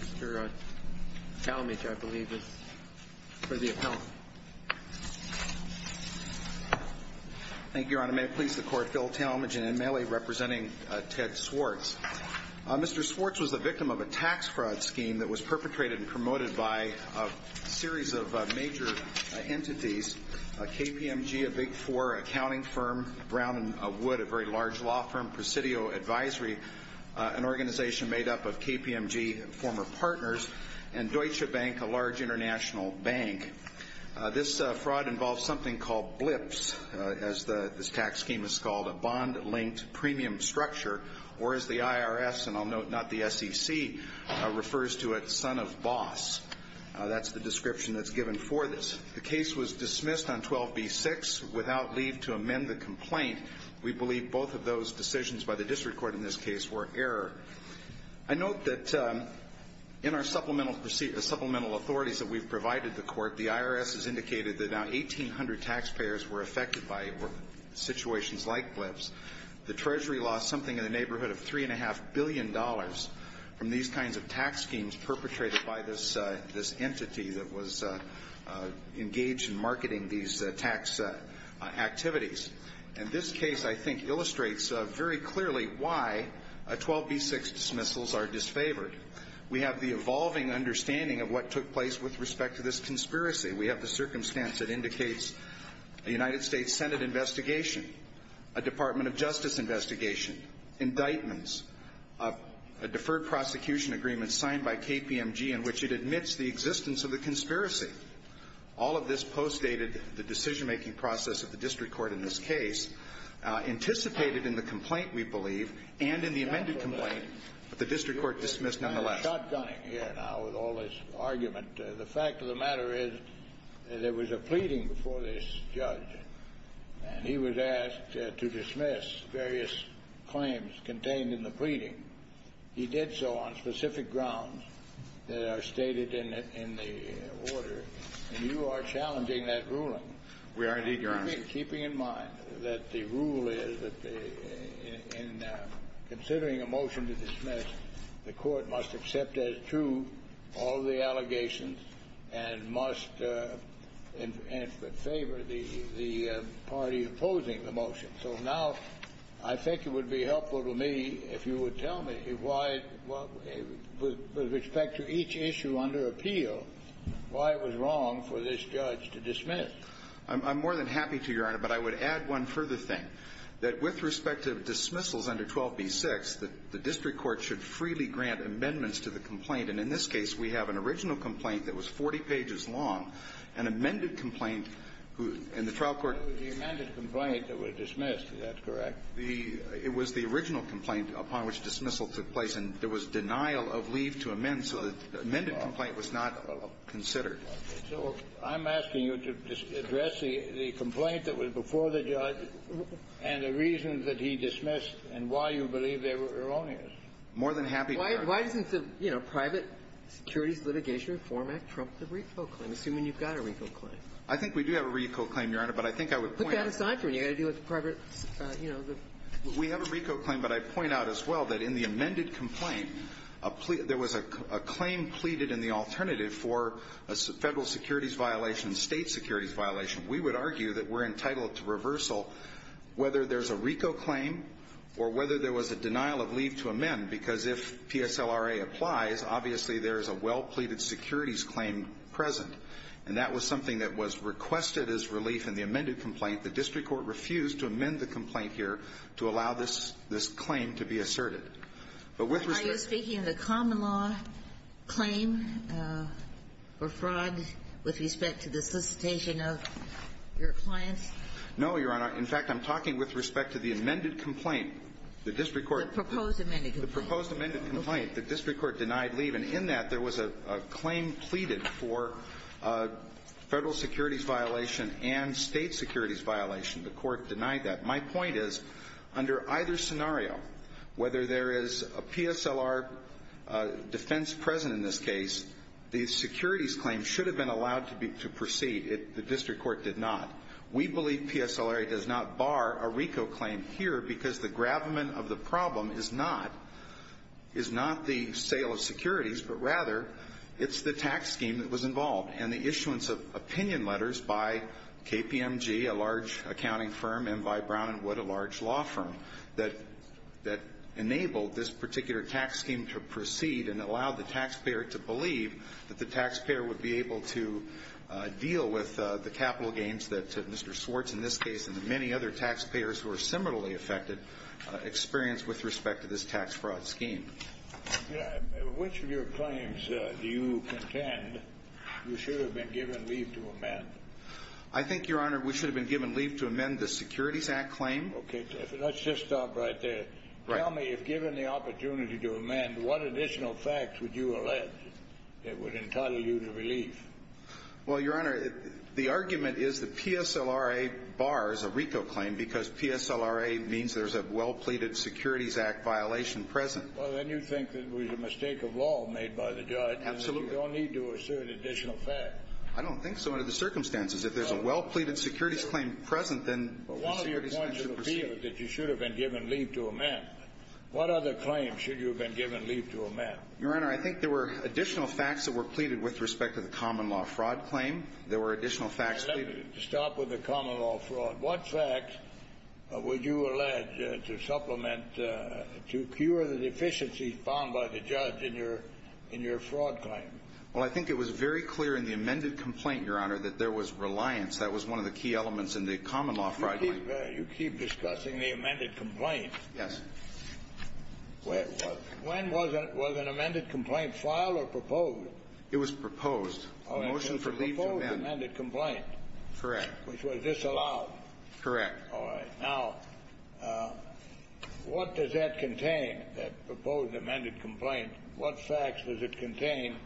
Mr. Talmadge, I believe, is for the appellant. Thank you, Your Honor. May it please the Court, Phil Talmadge, representing Ted Swartz. Mr. Swartz was the victim of a tax fraud scheme that was perpetrated and promoted by a series of major entities, KPMG, a Big Four accounting firm, Brown & Wood, a very large law firm, Presidio Advisory, an organization made up of KPMG former partners, and Deutsche Bank, a large international bank. This fraud involves something called BLPS, as this tax scheme is called, a bond-linked premium structure, or as the IRS, and I'll note, not the SEC, refers to it, son of boss. That's the description that's given for this. The case was dismissed on 12b-6 without leave to amend the complaint. We believe both of those decisions by the district court in this case were error. I note that in our supplemental authorities that we've provided the court, the IRS has indicated that now 1,800 taxpayers were affected by situations like BLPS. The Treasury lost something in the neighborhood of $3.5 billion from these kinds of tax schemes perpetrated by this entity that was engaged in marketing these tax activities. And this case, I think, illustrates very clearly why 12b-6 dismissals are disfavored. We have the evolving understanding of what took place with respect to this conspiracy. We have the circumstance that indicates a United States Senate investigation, a Department of Justice investigation, indictments, a deferred prosecution agreement signed by KPMG in which it admits the existence of the conspiracy. All of this postdated the decision-making process of the district court in this case, anticipated in the complaint, we believe, and in the amended complaint, but the district court dismissed nonetheless. It's kind of shotgunning here now with all this argument. The fact of the matter is that there was a pleading before this judge, and he was asked to dismiss various claims contained in the pleading. He did so on specific grounds that are stated in the order, and you are challenging that ruling. We are indeed, Your Honor. Keeping in mind that the rule is that in considering a motion to dismiss, the court must accept as true all the allegations and must favor the party opposing the motion. So now I think it would be helpful to me if you would tell me why, with respect to each issue under appeal, why it was wrong for this judge to dismiss. I'm more than happy to, Your Honor. But I would add one further thing, that with respect to dismissals under 12b-6, the district court should freely grant amendments to the complaint. And in this case, we have an original complaint that was 40 pages long, an amended complaint, and the trial court ---- The amended complaint that was dismissed, is that correct? It was the original complaint upon which dismissal took place. And there was denial of leave to amend, so the amended complaint was not considered. So I'm asking you to address the complaint that was before the judge and the reason that he dismissed and why you believe they were erroneous. More than happy to, Your Honor. Why doesn't the, you know, Private Securities Litigation Reform Act trump the RICO claim, assuming you've got a RICO claim? I think we do have a RICO claim, Your Honor, but I think I would point out ---- Put that aside for a minute. You've got to deal with private, you know, the ---- We have a RICO claim, but I'd point out as well that in the amended complaint, there was a claim pleaded in the alternative for a Federal securities violation and State securities violation. We would argue that we're entitled to reversal whether there's a RICO claim or whether there was a denial of leave to amend, because if PSLRA applies, obviously, there is a well-pleaded securities claim present. And that was something that was requested as relief in the amended complaint. The district court refused to amend the complaint here to allow this claim to be asserted. But with respect to ---- Are you speaking of the common law claim for fraud with respect to the solicitation of your clients? No, Your Honor. In fact, I'm talking with respect to the amended complaint. The district court ---- The proposed amended complaint. The proposed amended complaint. The district court denied leave. And in that, there was a claim pleaded for Federal securities violation and State securities violation. The court denied that. My point is, under either scenario, whether there is a PSLR defense present in this case, the securities claim should have been allowed to proceed. The district court did not. We believe PSLRA does not bar a RICO claim here because the gravamen of the problem is not the sale of securities, but rather, it's the tax scheme that was involved. And the issuance of opinion letters by KPMG, a large accounting firm, and by Brown & Wood, a large law firm, that enabled this particular tax scheme to proceed and allowed the taxpayer to believe that the taxpayer would be able to deal with the capital gains that Mr. Swartz in this case and the many other taxpayers who are similarly affected experience with respect to this tax fraud scheme. Which of your claims do you contend you should have been given leave to amend? I think, Your Honor, we should have been given leave to amend the Securities Act claim. Okay. Let's just stop right there. Tell me, if given the opportunity to amend, what additional facts would you allege that would entitle you to relief? Well, Your Honor, the argument is that PSLRA bars a RICO claim because PSLRA means there's a well-pleaded Securities Act violation present. Well, then you think that it was a mistake of law made by the judge. Absolutely. You don't need to assert additional facts. I don't think so under the circumstances. If there's a well-pleaded Securities Claim present, then the Securities Act should proceed. Well, one of the points of appeal is that you should have been given leave to amend. What other claims should you have been given leave to amend? Your Honor, I think there were additional facts that were pleaded with respect to the common law fraud claim. There were additional facts. Stop with the common law fraud. What facts would you allege to supplement, to cure the deficiencies found by the judge in your fraud claim? Well, I think it was very clear in the amended complaint, Your Honor, that there was reliance. That was one of the key elements in the common law fraud claim. You keep discussing the amended complaint. Yes. When was an amended complaint filed or proposed? It was proposed. The motion for leave to amend. It was a proposed amended complaint. Correct. Which was disallowed. Correct. All right. Now, what does that contain, that proposed amended complaint? What facts does it contain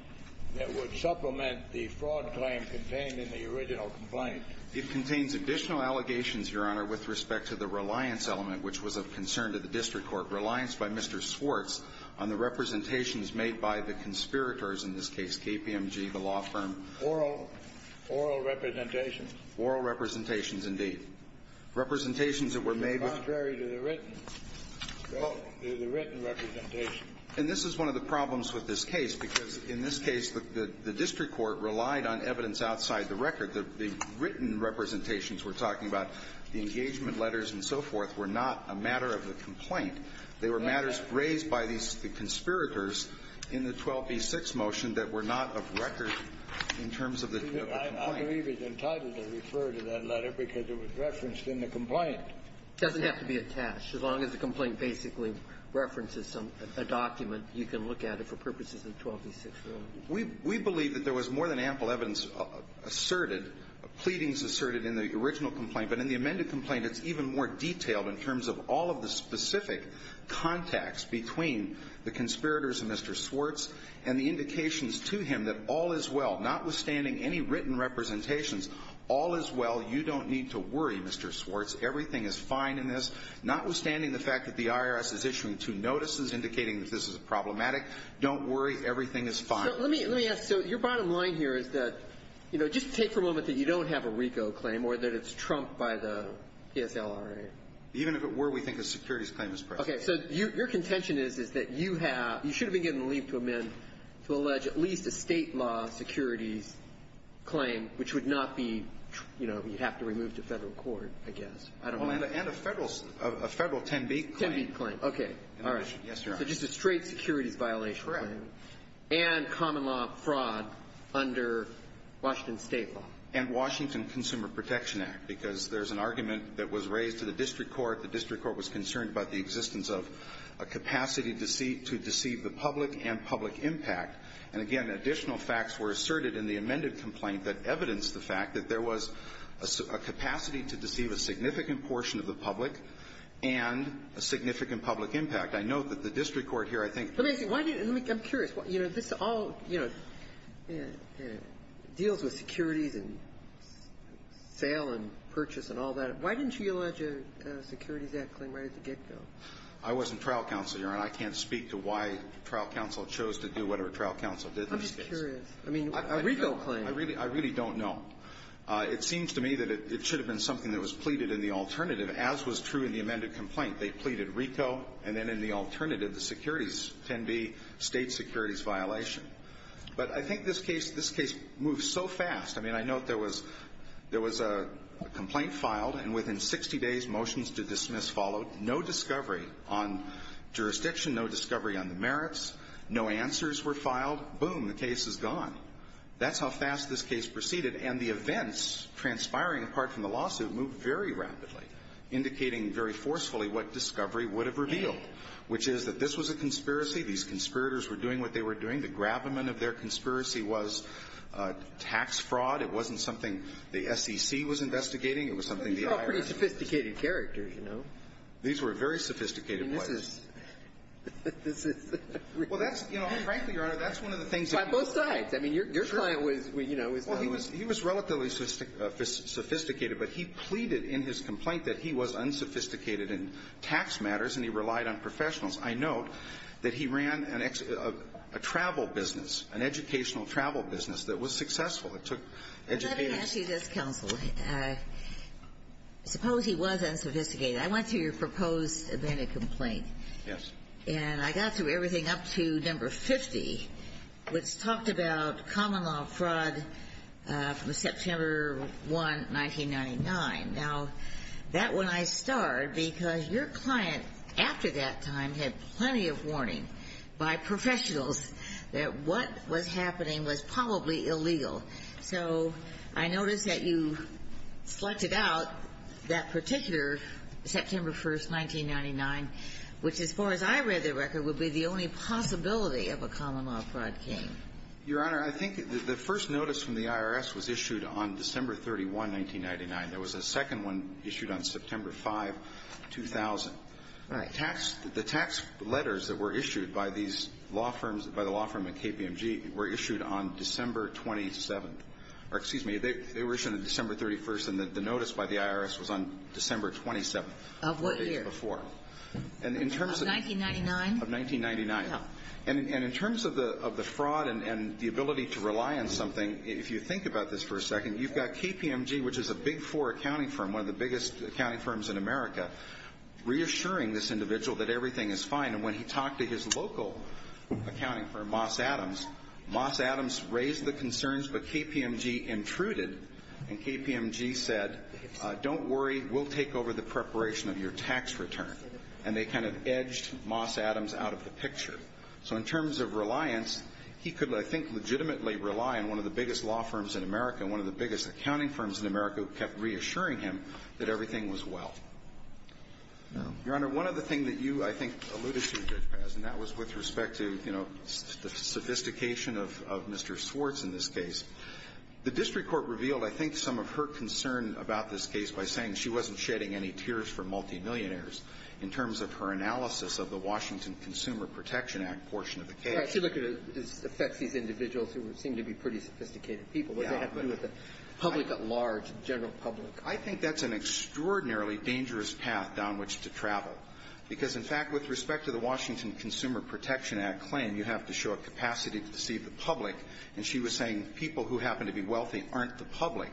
that would supplement the fraud claim contained in the original complaint? It contains additional allegations, Your Honor, with respect to the reliance element which was of concern to the district court. Reliance by Mr. Swartz on the representations made by the conspirators, in this case KPMG, the law firm. Oral representations. Oral representations, indeed. Representations that were made with. Contrary to the written representation. And this is one of the problems with this case, because in this case the district court relied on evidence outside the record. The written representations we're talking about, the engagement letters and so forth, were not a matter of the complaint. They were matters raised by these conspirators in the 12b-6 motion that were not of record in terms of the complaint. I believe it's entitled to refer to that letter because it was referenced in the complaint. It doesn't have to be attached. As long as the complaint basically references a document, you can look at it for purposes of 12b-6. We believe that there was more than ample evidence asserted, pleadings asserted in the original complaint. But in the amended complaint, it's even more detailed in terms of all of the specific contacts between the conspirators and Mr. Swartz and the indications to him that all is well, notwithstanding any written representations. All is well. You don't need to worry, Mr. Swartz. Everything is fine in this. Notwithstanding the fact that the IRS is issuing two notices indicating that this is problematic. Don't worry. Everything is fine. So let me ask. So your bottom line here is that, you know, just take for a moment that you don't have a RICO claim or that it's trumped by the PSLRA. Even if it were, we think a securities claim is present. Okay. So your contention is, is that you have you should have been getting a leave to amend to allege at least a State law securities claim, which would not be, you know, you have to remove to Federal court, I guess. I don't know. And a Federal 10b claim. 10b claim. All right. So just a straight securities violation claim. And common law fraud under Washington State law. And Washington Consumer Protection Act, because there's an argument that was raised to the district court. The district court was concerned about the existence of a capacity to deceive the public and public impact. And, again, additional facts were asserted in the amended complaint that evidenced the fact that there was a capacity to deceive a significant portion of the public and a significant public impact. I note that the district court here, I think the ---- Let me ask you. I'm curious. You know, this all, you know, deals with securities and sale and purchase and all that. Why didn't you allege a securities act claim right at the get-go? I wasn't trial counsel, Your Honor. I can't speak to why trial counsel chose to do whatever trial counsel did in this case. I'm just curious. I mean, a RICO claim. I really don't know. It seems to me that it should have been something that was pleaded in the alternative, as was true in the amended complaint. They pleaded RICO. And then in the alternative, the securities can be state securities violation. But I think this case moves so fast. I mean, I note there was a complaint filed, and within 60 days, motions to dismiss followed. No discovery on jurisdiction. No discovery on the merits. No answers were filed. Boom. The case is gone. That's how fast this case proceeded. And the events transpiring apart from the lawsuit moved very rapidly, indicating very forcefully what discovery would have revealed, which is that this was a conspiracy. These conspirators were doing what they were doing. The gravamen of their conspiracy was tax fraud. It wasn't something the SEC was investigating. It was something the IRS was investigating. You're all pretty sophisticated characters, you know. These were very sophisticated players. I mean, this is the RICO. Well, that's, you know, and frankly, Your Honor, that's one of the things that people say. By both sides. I mean, your client was, you know, was done. Well, he was relatively sophisticated. But he pleaded in his complaint that he was unsophisticated in tax matters and he relied on professionals. I note that he ran a travel business, an educational travel business that was successful. It took educators. Let me ask you this, counsel. Suppose he was unsophisticated. I went through your proposed evented complaint. Yes. And I got through everything up to number 50, which talked about common law fraud from September 1, 1999. Now, that one I starred because your client, after that time, had plenty of warning by professionals that what was happening was probably illegal. So I noticed that you selected out that particular September 1, 1999, which, as far as I read the record, would be the only possibility of a common law fraud case. Your Honor, I think the first notice from the IRS was issued on December 31, 1999. There was a second one issued on September 5, 2000. Right. The tax letters that were issued by these law firms, by the law firm at KPMG, were issued on December 27th. Excuse me. They were issued on December 31st, and the notice by the IRS was on December 27th. Of what year? Before. Of 1999? Of 1999. No. And in terms of the fraud and the ability to rely on something, if you think about this for a second, you've got KPMG, which is a big four accounting firm, one of the biggest accounting firms in America, reassuring this individual that everything is fine. And when he talked to his local accounting firm, Moss Adams, Moss Adams raised the concerns, but KPMG intruded. And KPMG said, Don't worry. We'll take over the preparation of your tax return. And they kind of edged Moss Adams out of the picture. So in terms of reliance, he could, I think, legitimately rely on one of the biggest law firms in America, one of the biggest accounting firms in America, who kept reassuring him that everything was well. Your Honor, one other thing that you, I think, alluded to, Judge Paz, and that was with respect to, you know, the sophistication of Mr. Swartz in this case, the district court revealed, I think, some of her concern about this case by saying she wasn't shedding any tears for multimillionaires in terms of her analysis of the Washington Consumer Protection Act portion of the case. Right. See, look, it affects these individuals who seem to be pretty sophisticated people. Yeah. What does that have to do with the public at large, the general public? I think that's an extraordinarily dangerous path down which to travel, because, in fact, with respect to the Washington Consumer Protection Act claim, you have to show a capacity to deceive the public. And she was saying people who happen to be wealthy aren't the public.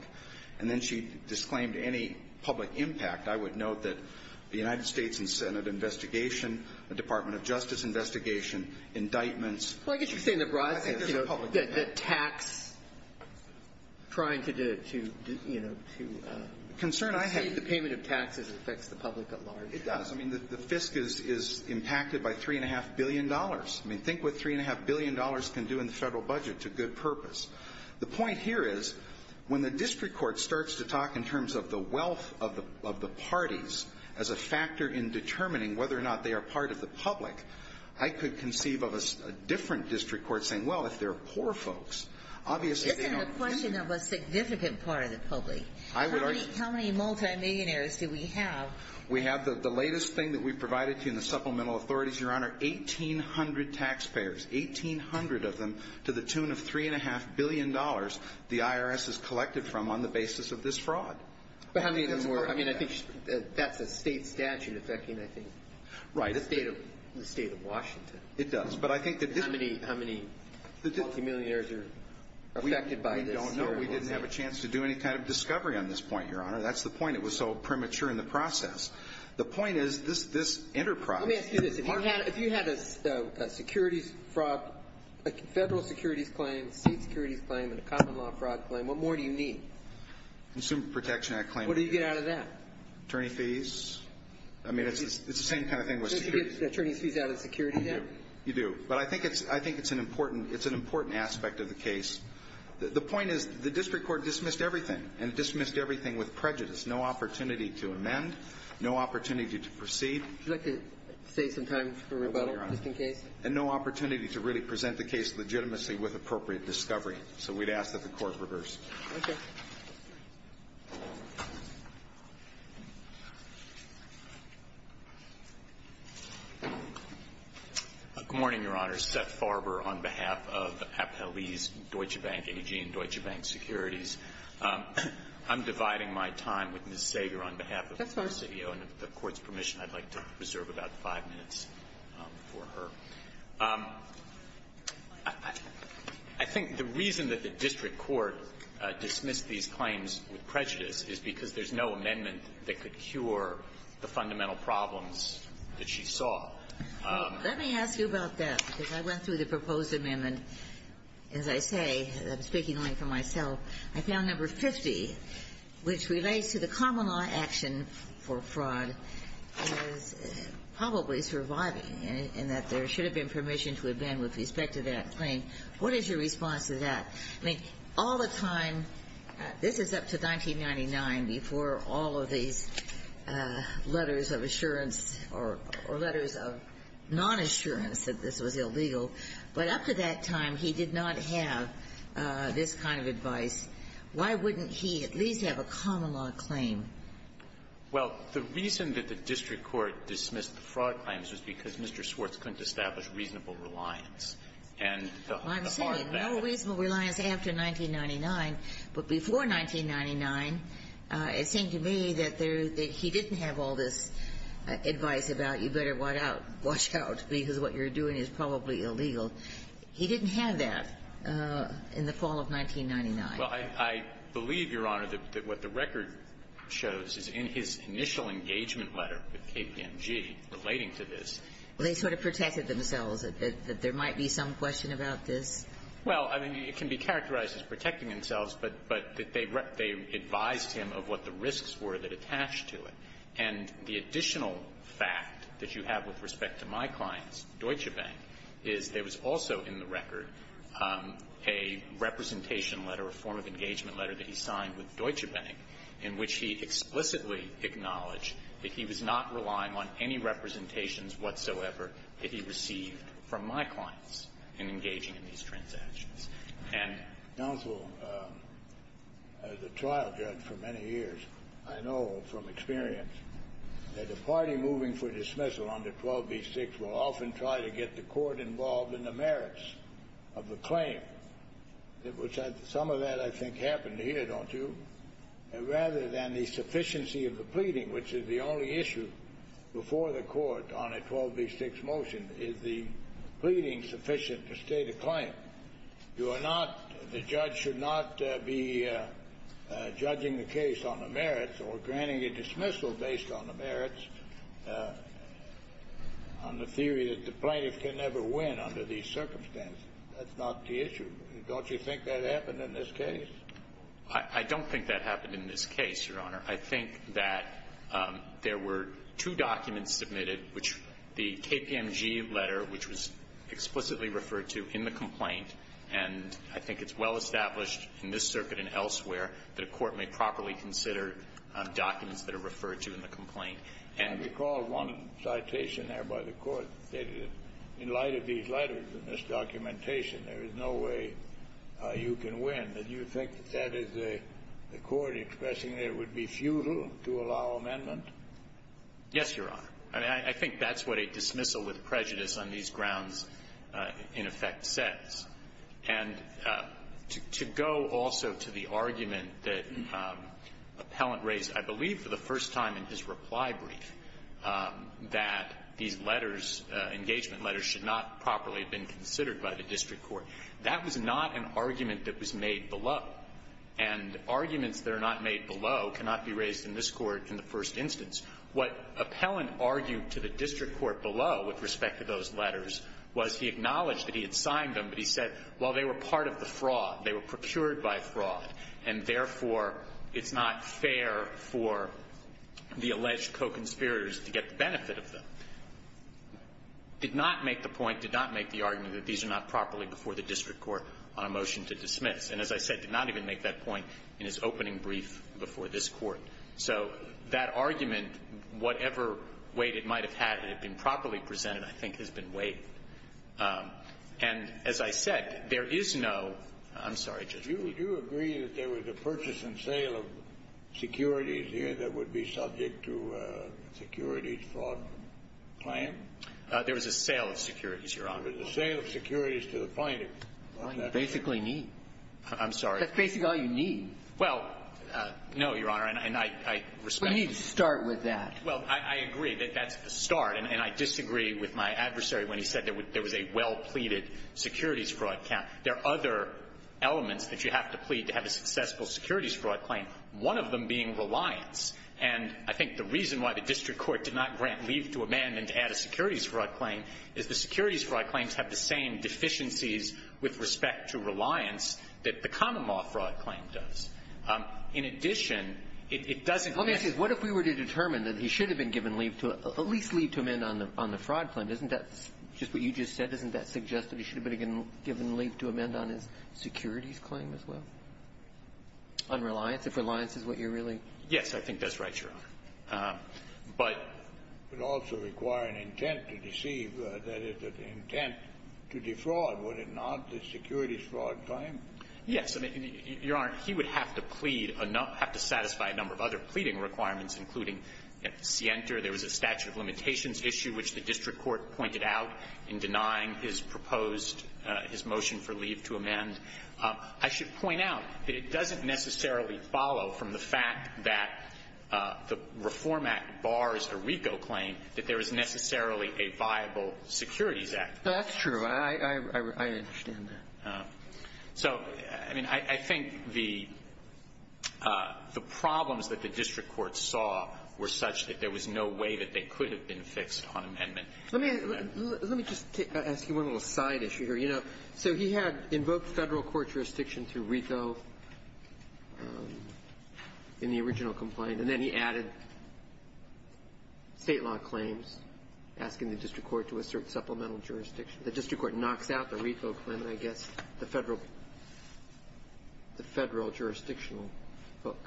And then she disclaimed any public impact. I would note that the United States and Senate investigation, the Department of Justice investigation, indictments. Well, I guess you're saying the broad sense, you know, the tax, trying to, you know, to save the payment of taxes affects the public at large. It does. I mean, the FISC is impacted by $3.5 billion. I mean, think what $3.5 billion can do in the Federal budget to good purpose. The point here is, when the district court starts to talk in terms of the wealth of the parties as a factor in determining whether or not they are part of the public, I could conceive of a different district court saying, well, if they're poor folks, obviously they don't. Isn't the question of a significant part of the public? I would argue. How many multimillionaires do we have? We have the latest thing that we've provided to you in the supplemental authorities, Your Honor, 1,800 taxpayers, 1,800 of them, to the tune of 3.5 billion dollars the IRS has collected from on the basis of this fraud. I mean, I think that's a state statute affecting, I think. Right. The state of Washington. It does. How many multimillionaires are affected by this? We don't know. We didn't have a chance to do any kind of discovery on this point, Your Honor. That's the point. It was so premature in the process. The point is, this enterprise. Let me ask you this. If you had a securities fraud, a Federal securities claim, a state securities claim, and a common law fraud claim, what more do you need? Consumer Protection Act claim. What do you get out of that? Attorney fees. I mean, it's the same kind of thing with securities. So you get attorney fees out of security then? You do. But I think it's an important aspect of the case. The point is, the district court dismissed everything, and dismissed everything with prejudice. No opportunity to amend. No opportunity to proceed. Would you like to save some time for rebuttal, just in case? And no opportunity to really present the case legitimacy with appropriate discovery. So we'd ask that the court reverse. Okay. Good morning, Your Honor. Seth Farber on behalf of Appelese Deutsche Bank AG and Deutsche Bank Securities. That's fine. With the Court's permission, I'd like to reserve about five minutes for her. I think the reason that the district court dismissed these claims with prejudice is because there's no amendment that could cure the fundamental problems that she saw. Let me ask you about that, because I went through the proposed amendment. As I say, I'm speaking only for myself, I found number 50, which relates to the common law action for fraud is probably surviving, and that there should have been permission to amend with respect to that claim. What is your response to that? I mean, all the time, this is up to 1999, before all of these letters of assurance or letters of nonassurance that this was illegal, but up to that time, he did not have this kind of advice. Why wouldn't he at least have a common-law claim? Well, the reason that the district court dismissed the fraud claims was because Mr. Swartz couldn't establish reasonable reliance. And the heart of that is that he didn't have all this advice about you better watch out, because what you're doing is probably illegal. He didn't have that in the fall of 1999. Well, I believe, Your Honor, that what the record shows is in his initial engagement letter with KPMG relating to this. They sort of protected themselves, that there might be some question about this? Well, I mean, it can be characterized as protecting themselves, but they advised him of what the risks were that attached to it. And the additional fact that you have with respect to my clients, Deutsche Bank, is there was also in the record a representation letter, a form of engagement letter that he signed with Deutsche Bank in which he explicitly acknowledged that he was not relying on any representations whatsoever that he received from my clients in engaging in these transactions. And counsel, as a trial judge for many years, I know from experience that a party moving for dismissal under 12b-6 will often try to get the court involved in the case. Some of that I think happened here, don't you? Rather than the sufficiency of the pleading, which is the only issue before the court on a 12b-6 motion, is the pleading sufficient to state a claim? You are not, the judge should not be judging the case on the merits or granting a dismissal based on the merits, on the theory that the plaintiff can never win under these circumstances. That's not the issue. Don't you think that happened in this case? I don't think that happened in this case, Your Honor. I think that there were two documents submitted, which the KPMG letter, which was explicitly referred to in the complaint, and I think it's well established in this circuit and elsewhere that a court may properly consider documents that are referred to in the complaint. I recall one citation there by the court that stated that in light of these letters and this documentation, there is no way you can win. Do you think that that is the court expressing that it would be futile to allow amendment? Yes, Your Honor. I mean, I think that's what a dismissal with prejudice on these grounds, in effect, says. And to go also to the argument that Appellant raised, I believe, for the first time in his reply brief, that these letters, engagement letters, should not properly have been considered by the district court. That was not an argument that was made below. And arguments that are not made below cannot be raised in this Court in the first instance. What Appellant argued to the district court below with respect to those letters was he acknowledged that he had signed them, but he said, well, they were part of the fraud. They were procured by fraud, and therefore, it's not fair for the alleged co-conspirators to get the benefit of them. Did not make the point, did not make the argument that these are not properly before the district court on a motion to dismiss. And as I said, did not even make that point in his opening brief before this Court. So that argument, whatever weight it might have had that had been properly presented, I think has been weighed. And as I said, there is no – I'm sorry, Judge Breyer. We do agree that there was a purchase and sale of securities here that would be subject to a securities fraud claim. There was a sale of securities, Your Honor. There was a sale of securities to the finding. That's basically all you need. I'm sorry. That's basically all you need. Well, no, Your Honor, and I respect that. We need to start with that. Well, I agree that that's the start. And I disagree with my adversary when he said there was a well-pleaded securities fraud count. There are other elements that you have to plead to have a successful securities fraud claim, one of them being reliance. And I think the reason why the district court did not grant leave to amend and to add a securities fraud claim is the securities fraud claims have the same deficiencies with respect to reliance that the common law fraud claim does. In addition, it doesn't Let me ask you, what if we were to determine that he should have been given leave to at least leave to amend on the fraud claim? Isn't that just what you just said? Isn't that suggest that he should have been given leave to amend on his securities claim as well, on reliance, if reliance is what you're really Yes, I think that's right, Your Honor. But It would also require an intent to deceive, that is, an intent to defraud, would it not, the securities fraud claim? Yes. Your Honor, he would have to plead, have to satisfy a number of other pleading requirements, including at Sienter there was a statute of limitations issue which the district court pointed out in denying his proposed, his motion for leave to amend. I should point out that it doesn't necessarily follow from the fact that the Reform Act bars a RICO claim that there is necessarily a viable securities act. That's true. I understand that. So, I mean, I think the problems that the district court saw were such that there was no way that they could have been fixed on amendment. Let me just ask you one little side issue here. You know, so he had invoked Federal court jurisdiction through RICO in the original complaint, and then he added State law claims, asking the district court to assert the Federal, the Federal jurisdictional book.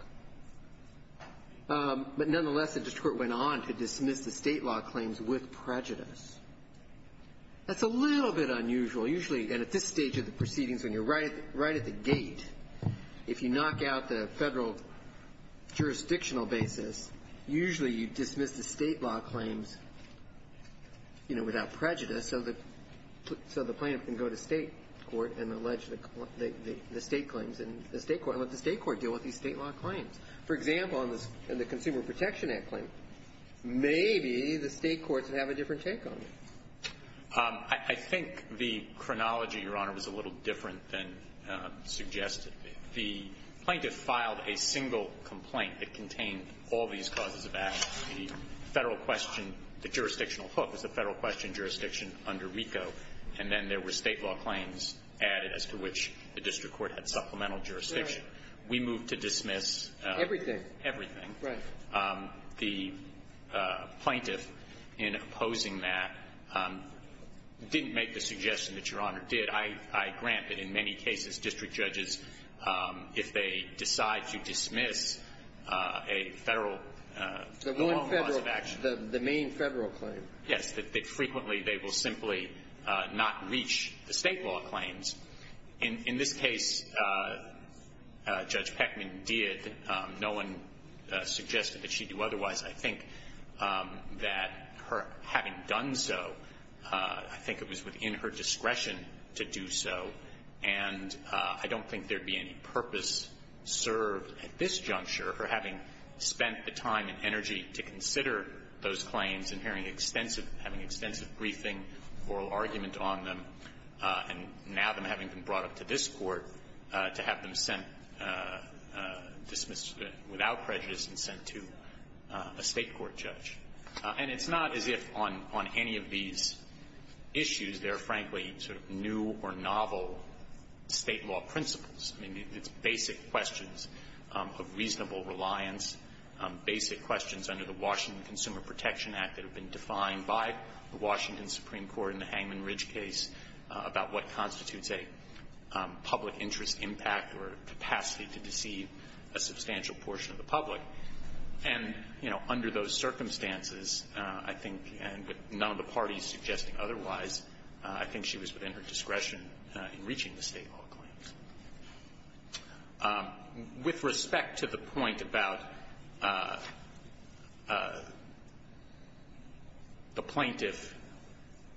But nonetheless, the district court went on to dismiss the State law claims with prejudice. That's a little bit unusual. Usually, and at this stage of the proceedings, when you're right at the gate, if you knock out the Federal jurisdictional basis, usually you dismiss the State law claims, you know, without prejudice, so the plaintiff can go to State court and allege the State claims in the State court and let the State court deal with these State law claims. For example, in the Consumer Protection Act claim, maybe the State courts would have a different take on it. I think the chronology, Your Honor, was a little different than suggested. The plaintiff filed a single complaint that contained all these causes of action. The Federal question, the jurisdictional book is the Federal question jurisdiction under RICO, and then there were State law claims added as to which the district court had supplemental jurisdiction. We moved to dismiss everything. Everything. Right. The plaintiff, in opposing that, didn't make the suggestion that Your Honor did. I grant that in many cases district judges, if they decide to dismiss a Federal clause of action. The one Federal, the main Federal claim. Yes. That frequently they will simply not reach the State law claims. In this case, Judge Peckman did. No one suggested that she do otherwise. I think that her having done so, I think it was within her discretion to do so, and I don't think there would be any purpose served at this juncture for having spent the time and energy to consider those claims and having extensive briefing, oral argument on them, and now them having been brought up to this Court to have them sent, dismissed without prejudice, and sent to a State court judge. And it's not as if on any of these issues there are, quite frankly, sort of new or novel State law principles. I mean, it's basic questions of reasonable reliance, basic questions under the Washington Consumer Protection Act that have been defined by the Washington Supreme Court in the Hangman Ridge case about what constitutes a public interest impact or capacity to deceive a substantial portion of the public. And, you know, under those circumstances, I think, and with none of the parties suggesting otherwise, I think she was within her discretion in reaching the State law claims. With respect to the point about the plaintiff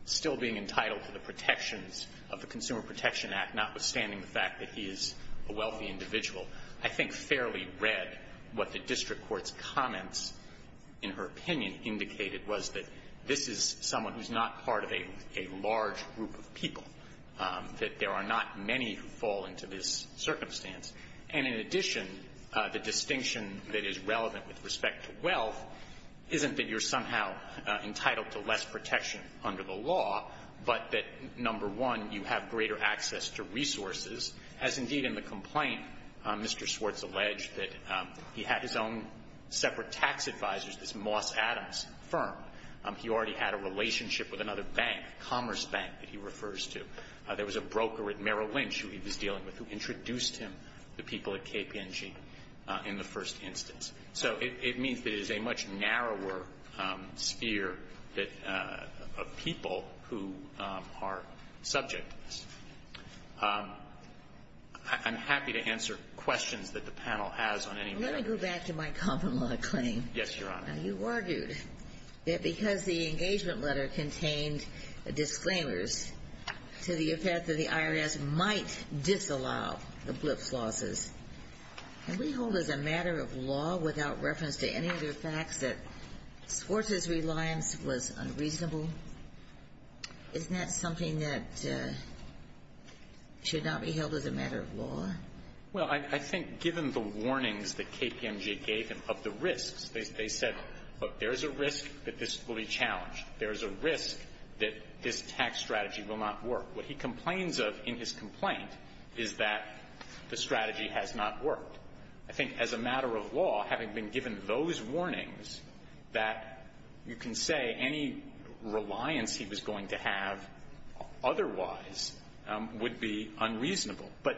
still being entitled to the protections of the Consumer Protection Act, notwithstanding the fact that he is a wealthy individual, I think fairly read that what the district court's comments, in her opinion, indicated was that this is someone who's not part of a large group of people, that there are not many who fall into this circumstance. And in addition, the distinction that is relevant with respect to wealth isn't that you're somehow entitled to less protection under the law, but that, number one, you have greater access to resources, as indeed in the complaint, Mr. Swartz alleged that he had his own separate tax advisors, this Moss Adams firm. He already had a relationship with another bank, a commerce bank that he refers to. There was a broker at Merrill Lynch who he was dealing with who introduced him to people at KPNG in the first instance. So it means that it is a much narrower sphere that of people who are subject to this. I'm happy to answer questions that the panel has on any matter. Let me go back to my common-law claim. Yes, Your Honor. Now, you argued that because the engagement letter contained disclaimers to the effect that the IRS might disallow the blips losses, can we hold as a matter of law, without reference to any other facts, that Swartz's reliance was unreasonable? Isn't that something that should not be held as a matter of law? Well, I think given the warnings that KPMG gave him of the risks, they said, look, there is a risk that this will be challenged. There is a risk that this tax strategy will not work. What he complains of in his complaint is that the strategy has not worked. I think as a matter of law, having been given those warnings, that you can say any reliance he was going to have otherwise would be unreasonable. But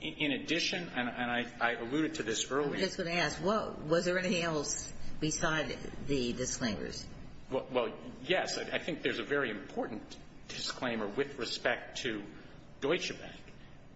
in addition, and I alluded to this earlier. I'm just going to ask, was there anything else beside the disclaimers? Well, yes. I think there's a very important disclaimer with respect to Deutsche Bank.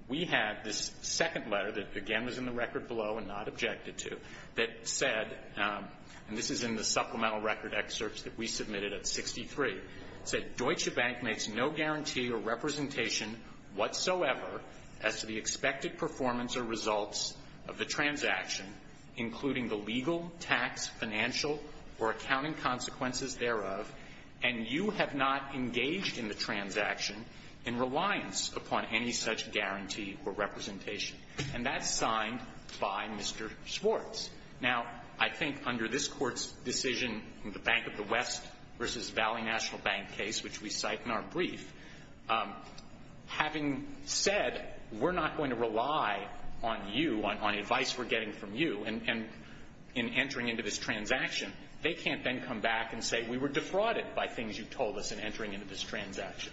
We have this second letter that, again, was in the record below and not objected to, that said, and this is in the supplemental record excerpts that we submitted at 63, said Deutsche Bank makes no guarantee or representation whatsoever as to the expected performance or results of the transaction, including the legal, tax, financial, or accounting consequences thereof, and you have not engaged in the transaction in reliance upon any such guarantee or representation, and that's signed by Mr. Schwartz. Now, I think under this court's decision in the Bank of the West versus Valley National Bank case, which we cite in our brief, having said we're not going to rely on you, on advice we're getting from you in entering into this transaction, they can't then come back and say we were defrauded by things you told us in entering into this transaction.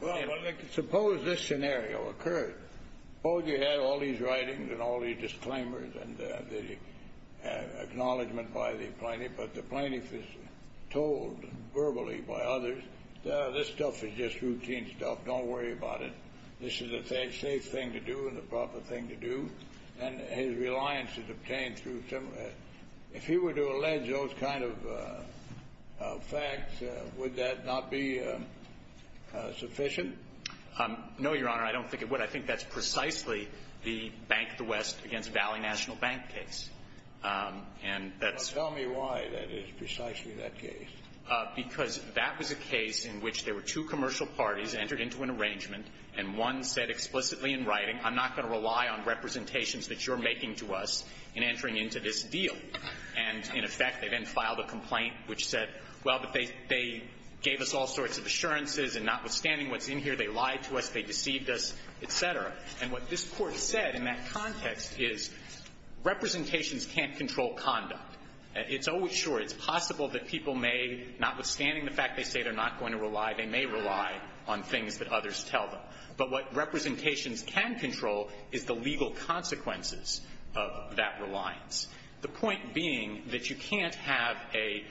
Well, suppose this scenario occurred. Suppose you had all these writings and all these disclaimers and the acknowledgment by the plaintiff, but the plaintiff is told verbally by others, this stuff is just routine stuff. Don't worry about it. This is a safe thing to do and the proper thing to do, and his reliance is obtained through some of that. If he were to allege those kind of facts, would that not be sufficient? No, Your Honor, I don't think it would. I think that's precisely the Bank of the West against Valley National Bank case, and that's... Well, tell me why that is precisely that case. Because that was a case in which there were two commercial parties entered into an arrangement, and one said explicitly in writing, I'm not going to rely on representations that you're making to us in entering into this deal. And in effect, they then filed a complaint which said, well, but they gave us all sorts of assurances, and notwithstanding what's in here, they lied to us, they deceived us, et cetera. And what this Court said in that context is representations can't control conduct. It's always sure. It's possible that people may, notwithstanding the fact they say they're not going to rely, they may rely on things that others tell them. But what representations can control is the legal consequences of that reliance. The point being that you can't have a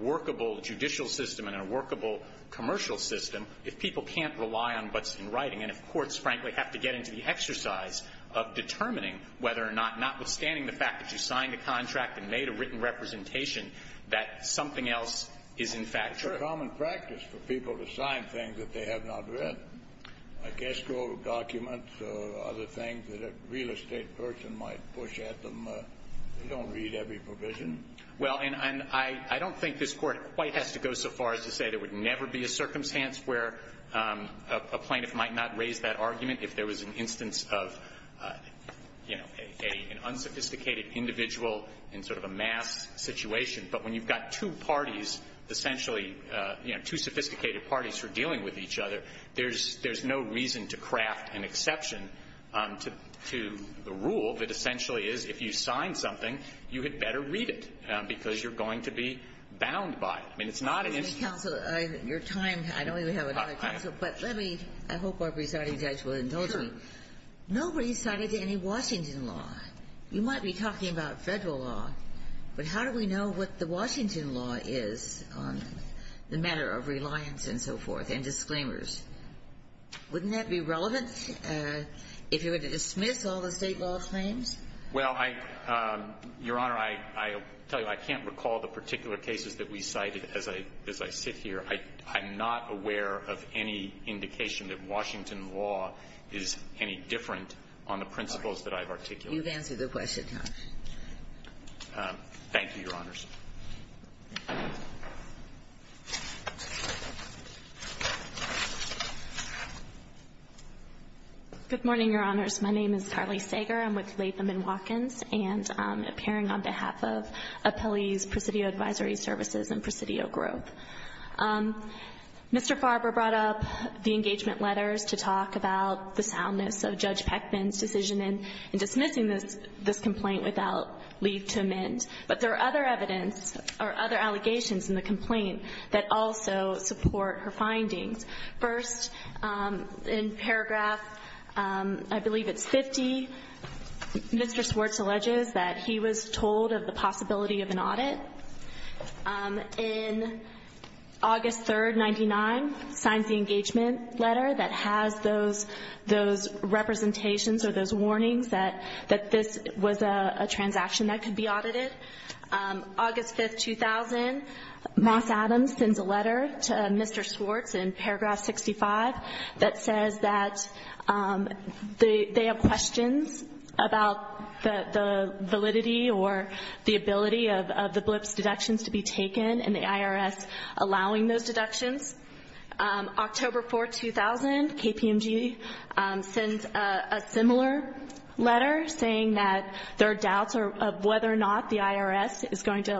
workable judicial system and a workable commercial system if people can't rely on what's in writing, and if courts, frankly, have to get into the exercise of determining whether or not, notwithstanding the fact that you signed a contract and made a written representation, that something else is in fact true. It's a common practice for people to sign things that they have not read, like escrow documents or other things that a real estate person might push at them. They don't read every provision. Well, and I don't think this Court quite has to go so far as to say there would never be a circumstance where a plaintiff might not raise that argument if there was an instance of, you know, an unsophisticated individual in sort of a mass situation. But when you've got two parties, essentially, you know, two sophisticated parties who are dealing with each other, there's no reason to craft an exception to the rule that essentially is if you sign something, you had better read it, because you're going to be bound by it. I mean, it's not an instance of any law. Kagan. Ginsburg. Your time, I don't even have another counsel, but let me, I hope our presiding judge will indulge me. Nobody's cited any Washington law. You might be talking about Federal law, but how do we know what the Washington law is on the matter of reliance and so forth and disclaimers? Wouldn't that be relevant if you were to dismiss all the State law claims? Well, I – Your Honor, I tell you, I can't recall the particular cases that we cited as I sit here. I'm not aware of any indication that Washington law is any different on the principles that I've articulated. But you've answered the question, Your Honor. Thank you, Your Honors. Good morning, Your Honors. My name is Carly Sager. I'm with Latham & Watkins, and I'm appearing on behalf of Appellees Presidio Advisory Services and Presidio Growth. Mr. Farber brought up the engagement letters to talk about the soundness of Judge Swartz's findings in this complaint without leave to amend. But there are other evidence or other allegations in the complaint that also support her findings. First, in paragraph, I believe it's 50, Mr. Swartz alleges that he was told of the possibility of an audit. In August 3rd, 99, he signs the engagement letter that has those representations or those warnings that this was a transaction that could be audited. August 5th, 2000, Moss Adams sends a letter to Mr. Swartz in paragraph 65 that says that they have questions about the validity or the ability of the blips deductions to be taken and the IRS allowing those deductions. October 4th, 2000, KPMG sends a similar letter saying that there are doubts of whether or not the IRS is going to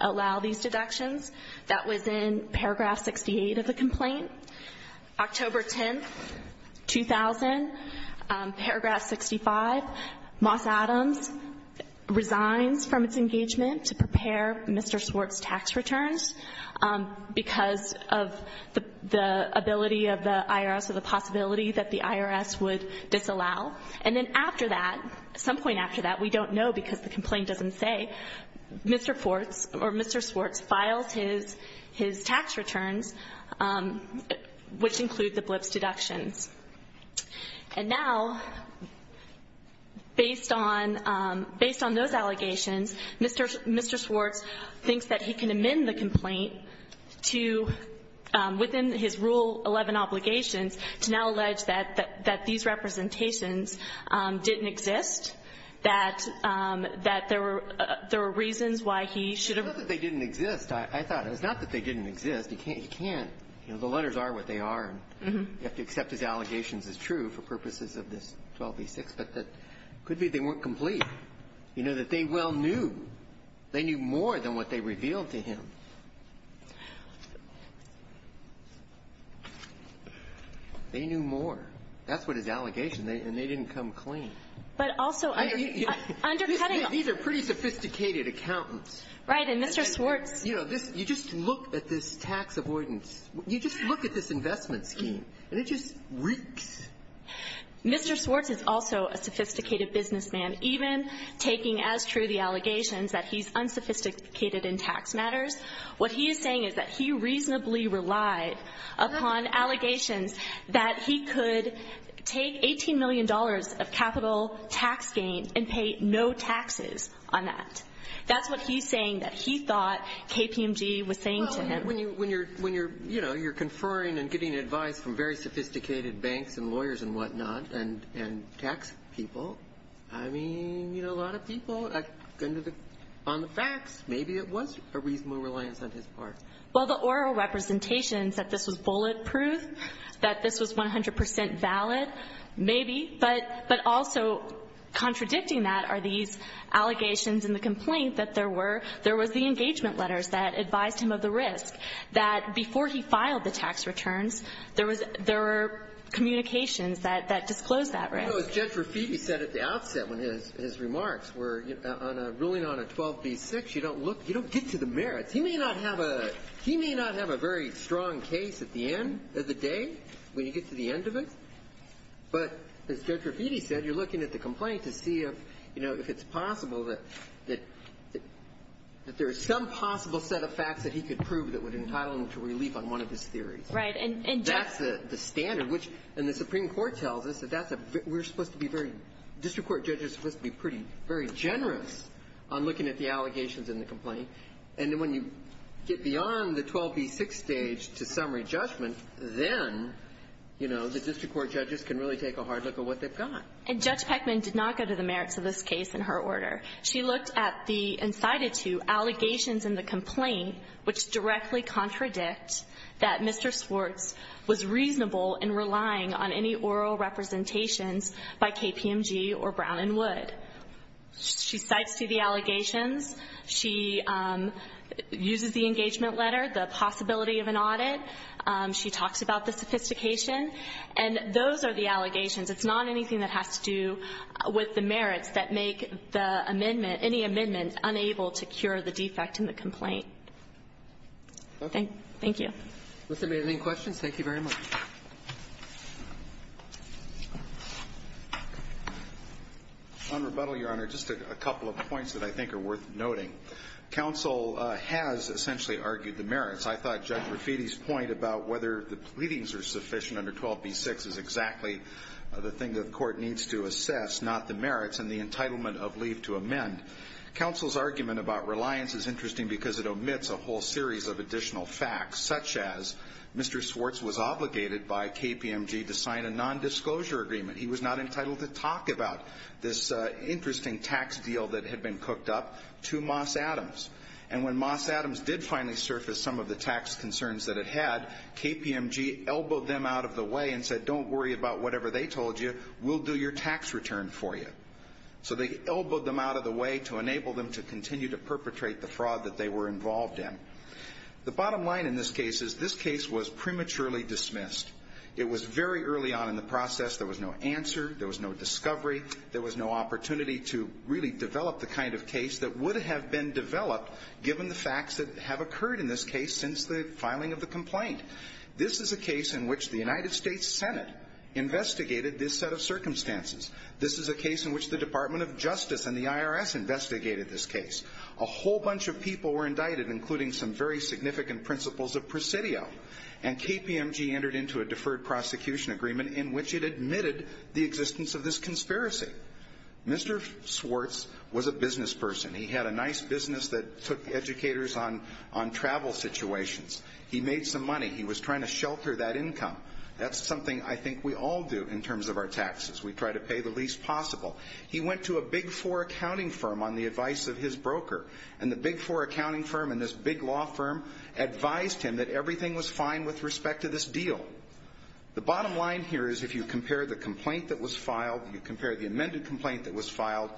allow these deductions. That was in paragraph 68 of the complaint. October 10th, 2000, paragraph 65, Moss Adams resigns from its engagement to prepare Mr. Swartz for the possibility that the IRS would disallow. And then after that, some point after that, we don't know because the complaint doesn't say, Mr. Swartz files his tax returns, which include the blips deductions. And now, based on those allegations, Mr. Swartz thinks that he can amend the complaint to, within his Rule 11 obligations, to now allege that these representations didn't exist, that there were reasons why he should have been. I thought it was not that they didn't exist. He can't. The letters are what they are. You have to accept his allegations as true for purposes of this 12v6, but it could be they weren't complete, that they well knew. They knew more than what they revealed to him. They knew more. That's what his allegation, and they didn't come clean. But also undercutting them. These are pretty sophisticated accountants. Right. And Mr. Swartz. You know, this you just look at this tax avoidance. You just look at this investment scheme, and it just reeks. Mr. Swartz is also a sophisticated businessman, even taking as true the allegations that he's unsophisticated in tax matters. What he is saying is that he reasonably relied upon allegations that he could take $18 million of capital tax gain and pay no taxes on that. That's what he's saying that he thought KPMG was saying to him. Well, when you're conferring and getting advice from very sophisticated banks and lawyers and whatnot and tax people, I mean, you know, a lot of people, under the current circumstances, on the facts, maybe it was a reasonable reliance on his part. Well, the oral representations that this was bulletproof, that this was 100 percent valid, maybe, but also contradicting that are these allegations in the complaint that there were the engagement letters that advised him of the risk, that before he filed the tax returns, there were communications that disclosed that risk. Well, as Judge Rafiti said at the outset in his remarks, where on a ruling on a 12b-6, you don't look, you don't get to the merits. He may not have a very strong case at the end of the day, when you get to the end of it, but as Judge Rafiti said, you're looking at the complaint to see if, you know, if it's possible that there is some possible set of facts that he could prove that would entitle him to relief on one of his theories. Right. And just the standard, which, and the Supreme Court tells us that that's a, we're supposed to be very, district court judges are supposed to be pretty, very generous on looking at the allegations in the complaint, and then when you get beyond the 12b-6 stage to summary judgment, then, you know, the district court judges can really take a hard look at what they've got. And Judge Peckman did not go to the merits of this case in her order. She looked at the incited to allegations in the complaint which directly contradict that Mr. Swartz was reasonable in relying on any oral representations by KPMG or Brown and Wood. She cites to the allegations. She uses the engagement letter, the possibility of an audit. She talks about the sophistication. And those are the allegations. It's not anything that has to do with the merits that make the amendment, any amendment unable to cure the defect in the complaint. Thank you. Roberts. Thank you very much. On rebuttal, Your Honor, just a couple of points that I think are worth noting. Counsel has essentially argued the merits. I thought Judge Rafiti's point about whether the pleadings are sufficient under 12b-6 is exactly the thing that the court needs to assess, not the merits and the entitlement of leave to amend. Counsel's argument about reliance is interesting because it omits a whole series of additional facts, such as Mr. Swartz was obligated by KPMG to sign a nondisclosure agreement. He was not entitled to talk about this interesting tax deal that had been cooked up to Moss Adams. And when Moss Adams did finally surface some of the tax concerns that it had, KPMG elbowed them out of the way and said, don't worry about whatever they told you. We'll do your tax return for you. So they elbowed them out of the way to enable them to continue to perpetrate the fraud that they were involved in. The bottom line in this case is this case was prematurely dismissed. It was very early on in the process. There was no answer. There was no discovery. There was no opportunity to really develop the kind of case that would have been developed given the facts that have occurred in this case since the filing of the complaint. This is a case in which the United States Senate investigated this set of circumstances. This is a case in which the Department of Justice and the IRS investigated this case. A whole bunch of people were indicted, including some very significant principals of Presidio. And KPMG entered into a deferred prosecution agreement in which it admitted the existence of this conspiracy. Mr. Swartz was a business person. He had a nice business that took educators on travel situations. He made some money. He was trying to shelter that income. That's something I think we all do in terms of our taxes. We try to pay the least possible. He went to a Big Four accounting firm on the advice of his broker. And the Big Four accounting firm and this big law firm advised him that everything was fine with respect to this deal. The bottom line here is if you compare the complaint that was filed, you compare the amended complaint that was filed,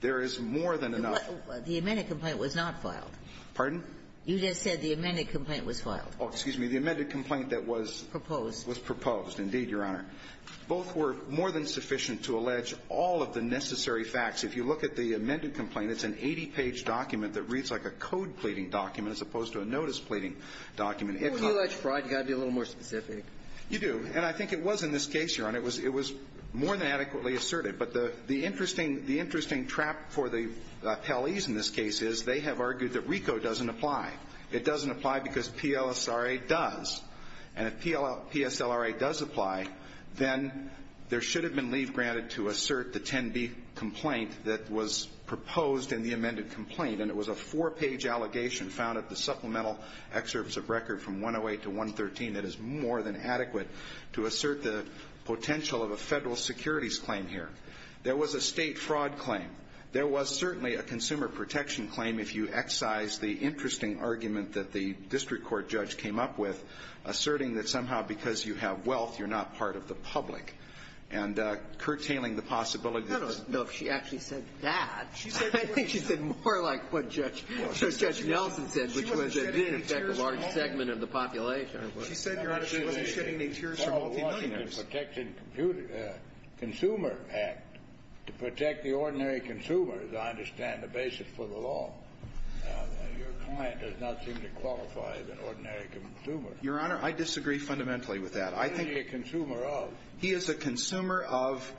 there is more than enough of a difference. The amended complaint was not filed. Pardon? You just said the amended complaint was filed. Oh, excuse me. The amended complaint that was proposed. Was proposed, indeed, Your Honor. Both were more than sufficient to allege all of the necessary facts. If you look at the amended complaint, it's an 80-page document that reads like a code pleading document as opposed to a notice pleading document. If you allege fraud, you've got to be a little more specific. You do. And I think it was in this case, Your Honor, it was more than adequately asserted. But the interesting trap for the appellees in this case is they have argued that RICO doesn't apply. It doesn't apply because PLSRA does. And if PSLRA does apply, then there should have been leave granted to assert the 10B complaint that was proposed in the amended complaint. And it was a four-page allegation found at the supplemental excerpts of record from 108 to 113 that is more than adequate to assert the potential of a federal securities claim here. There was a state fraud claim. There was certainly a consumer protection claim if you excise the interesting argument that the district court judge came up with, asserting that somehow because you have wealth, you're not part of the public, and curtailing the possibility of this. I don't know if she actually said that. I think she said more like what Judge Nelson said, which was, in effect, a large segment of the population. She said, Your Honor, she wasn't shedding any tears for wealthy billionaires. The Consumer Act, to protect the ordinary consumer, as I understand the basis for the law, your client does not seem to qualify as an ordinary consumer. Your Honor, I disagree fundamentally with that. I think he is a consumer of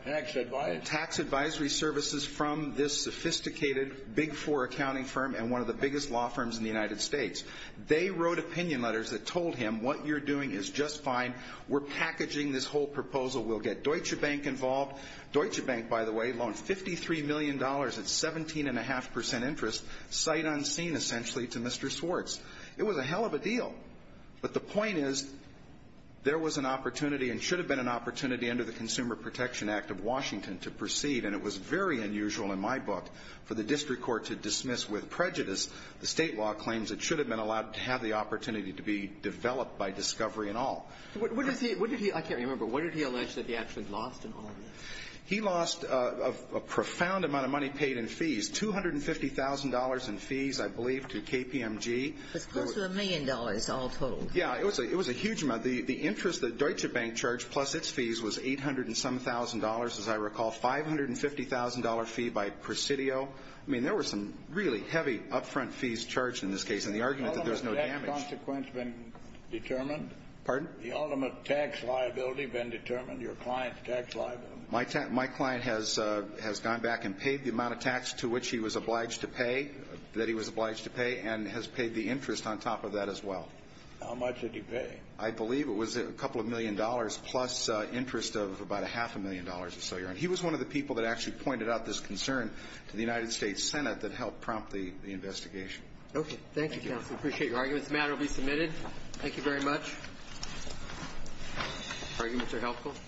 tax advisory services from this sophisticated Big Four accounting firm and one of the biggest law firms in the United States. They wrote opinion letters that told him, what you're doing is just fine. We're packaging this whole proposal. We'll get Deutsche Bank involved. Deutsche Bank, by the way, loaned $53 million at 17.5 percent interest, sight unseen, essentially, to Mr. Swartz. It was a hell of a deal. But the point is, there was an opportunity and should have been an opportunity under the Consumer Protection Act of Washington to proceed, and it was very unusual in my book for the district court to dismiss with prejudice the State law claims it should have been allowed to have the opportunity to be developed by discovery and all. What did he – I can't remember. What did he allege that he actually lost in all of this? He lost a profound amount of money paid in fees, $250,000 in fees, I believe, to KPMG. It was close to a million dollars all total. Yeah. It was a huge amount. The interest that Deutsche Bank charged plus its fees was $800 and some thousand, as I recall, $550,000 fee by Presidio. I mean, there were some really heavy upfront fees charged in this case, and the argument that there's no damage. Has that consequence been determined? Pardon? The ultimate tax liability been determined, your client's tax liability. My client has gone back and paid the amount of tax to which he was obliged to pay, that he was obliged to pay, and has paid the interest on top of that as well. How much did he pay? I believe it was a couple of million dollars plus interest of about a half a million dollars or so. And he was one of the people that actually pointed out this concern to the United States Senate that helped prompt the investigation. Okay. Thank you, counsel. I appreciate your arguments. The matter will be submitted. Thank you very much. Arguments are helpful.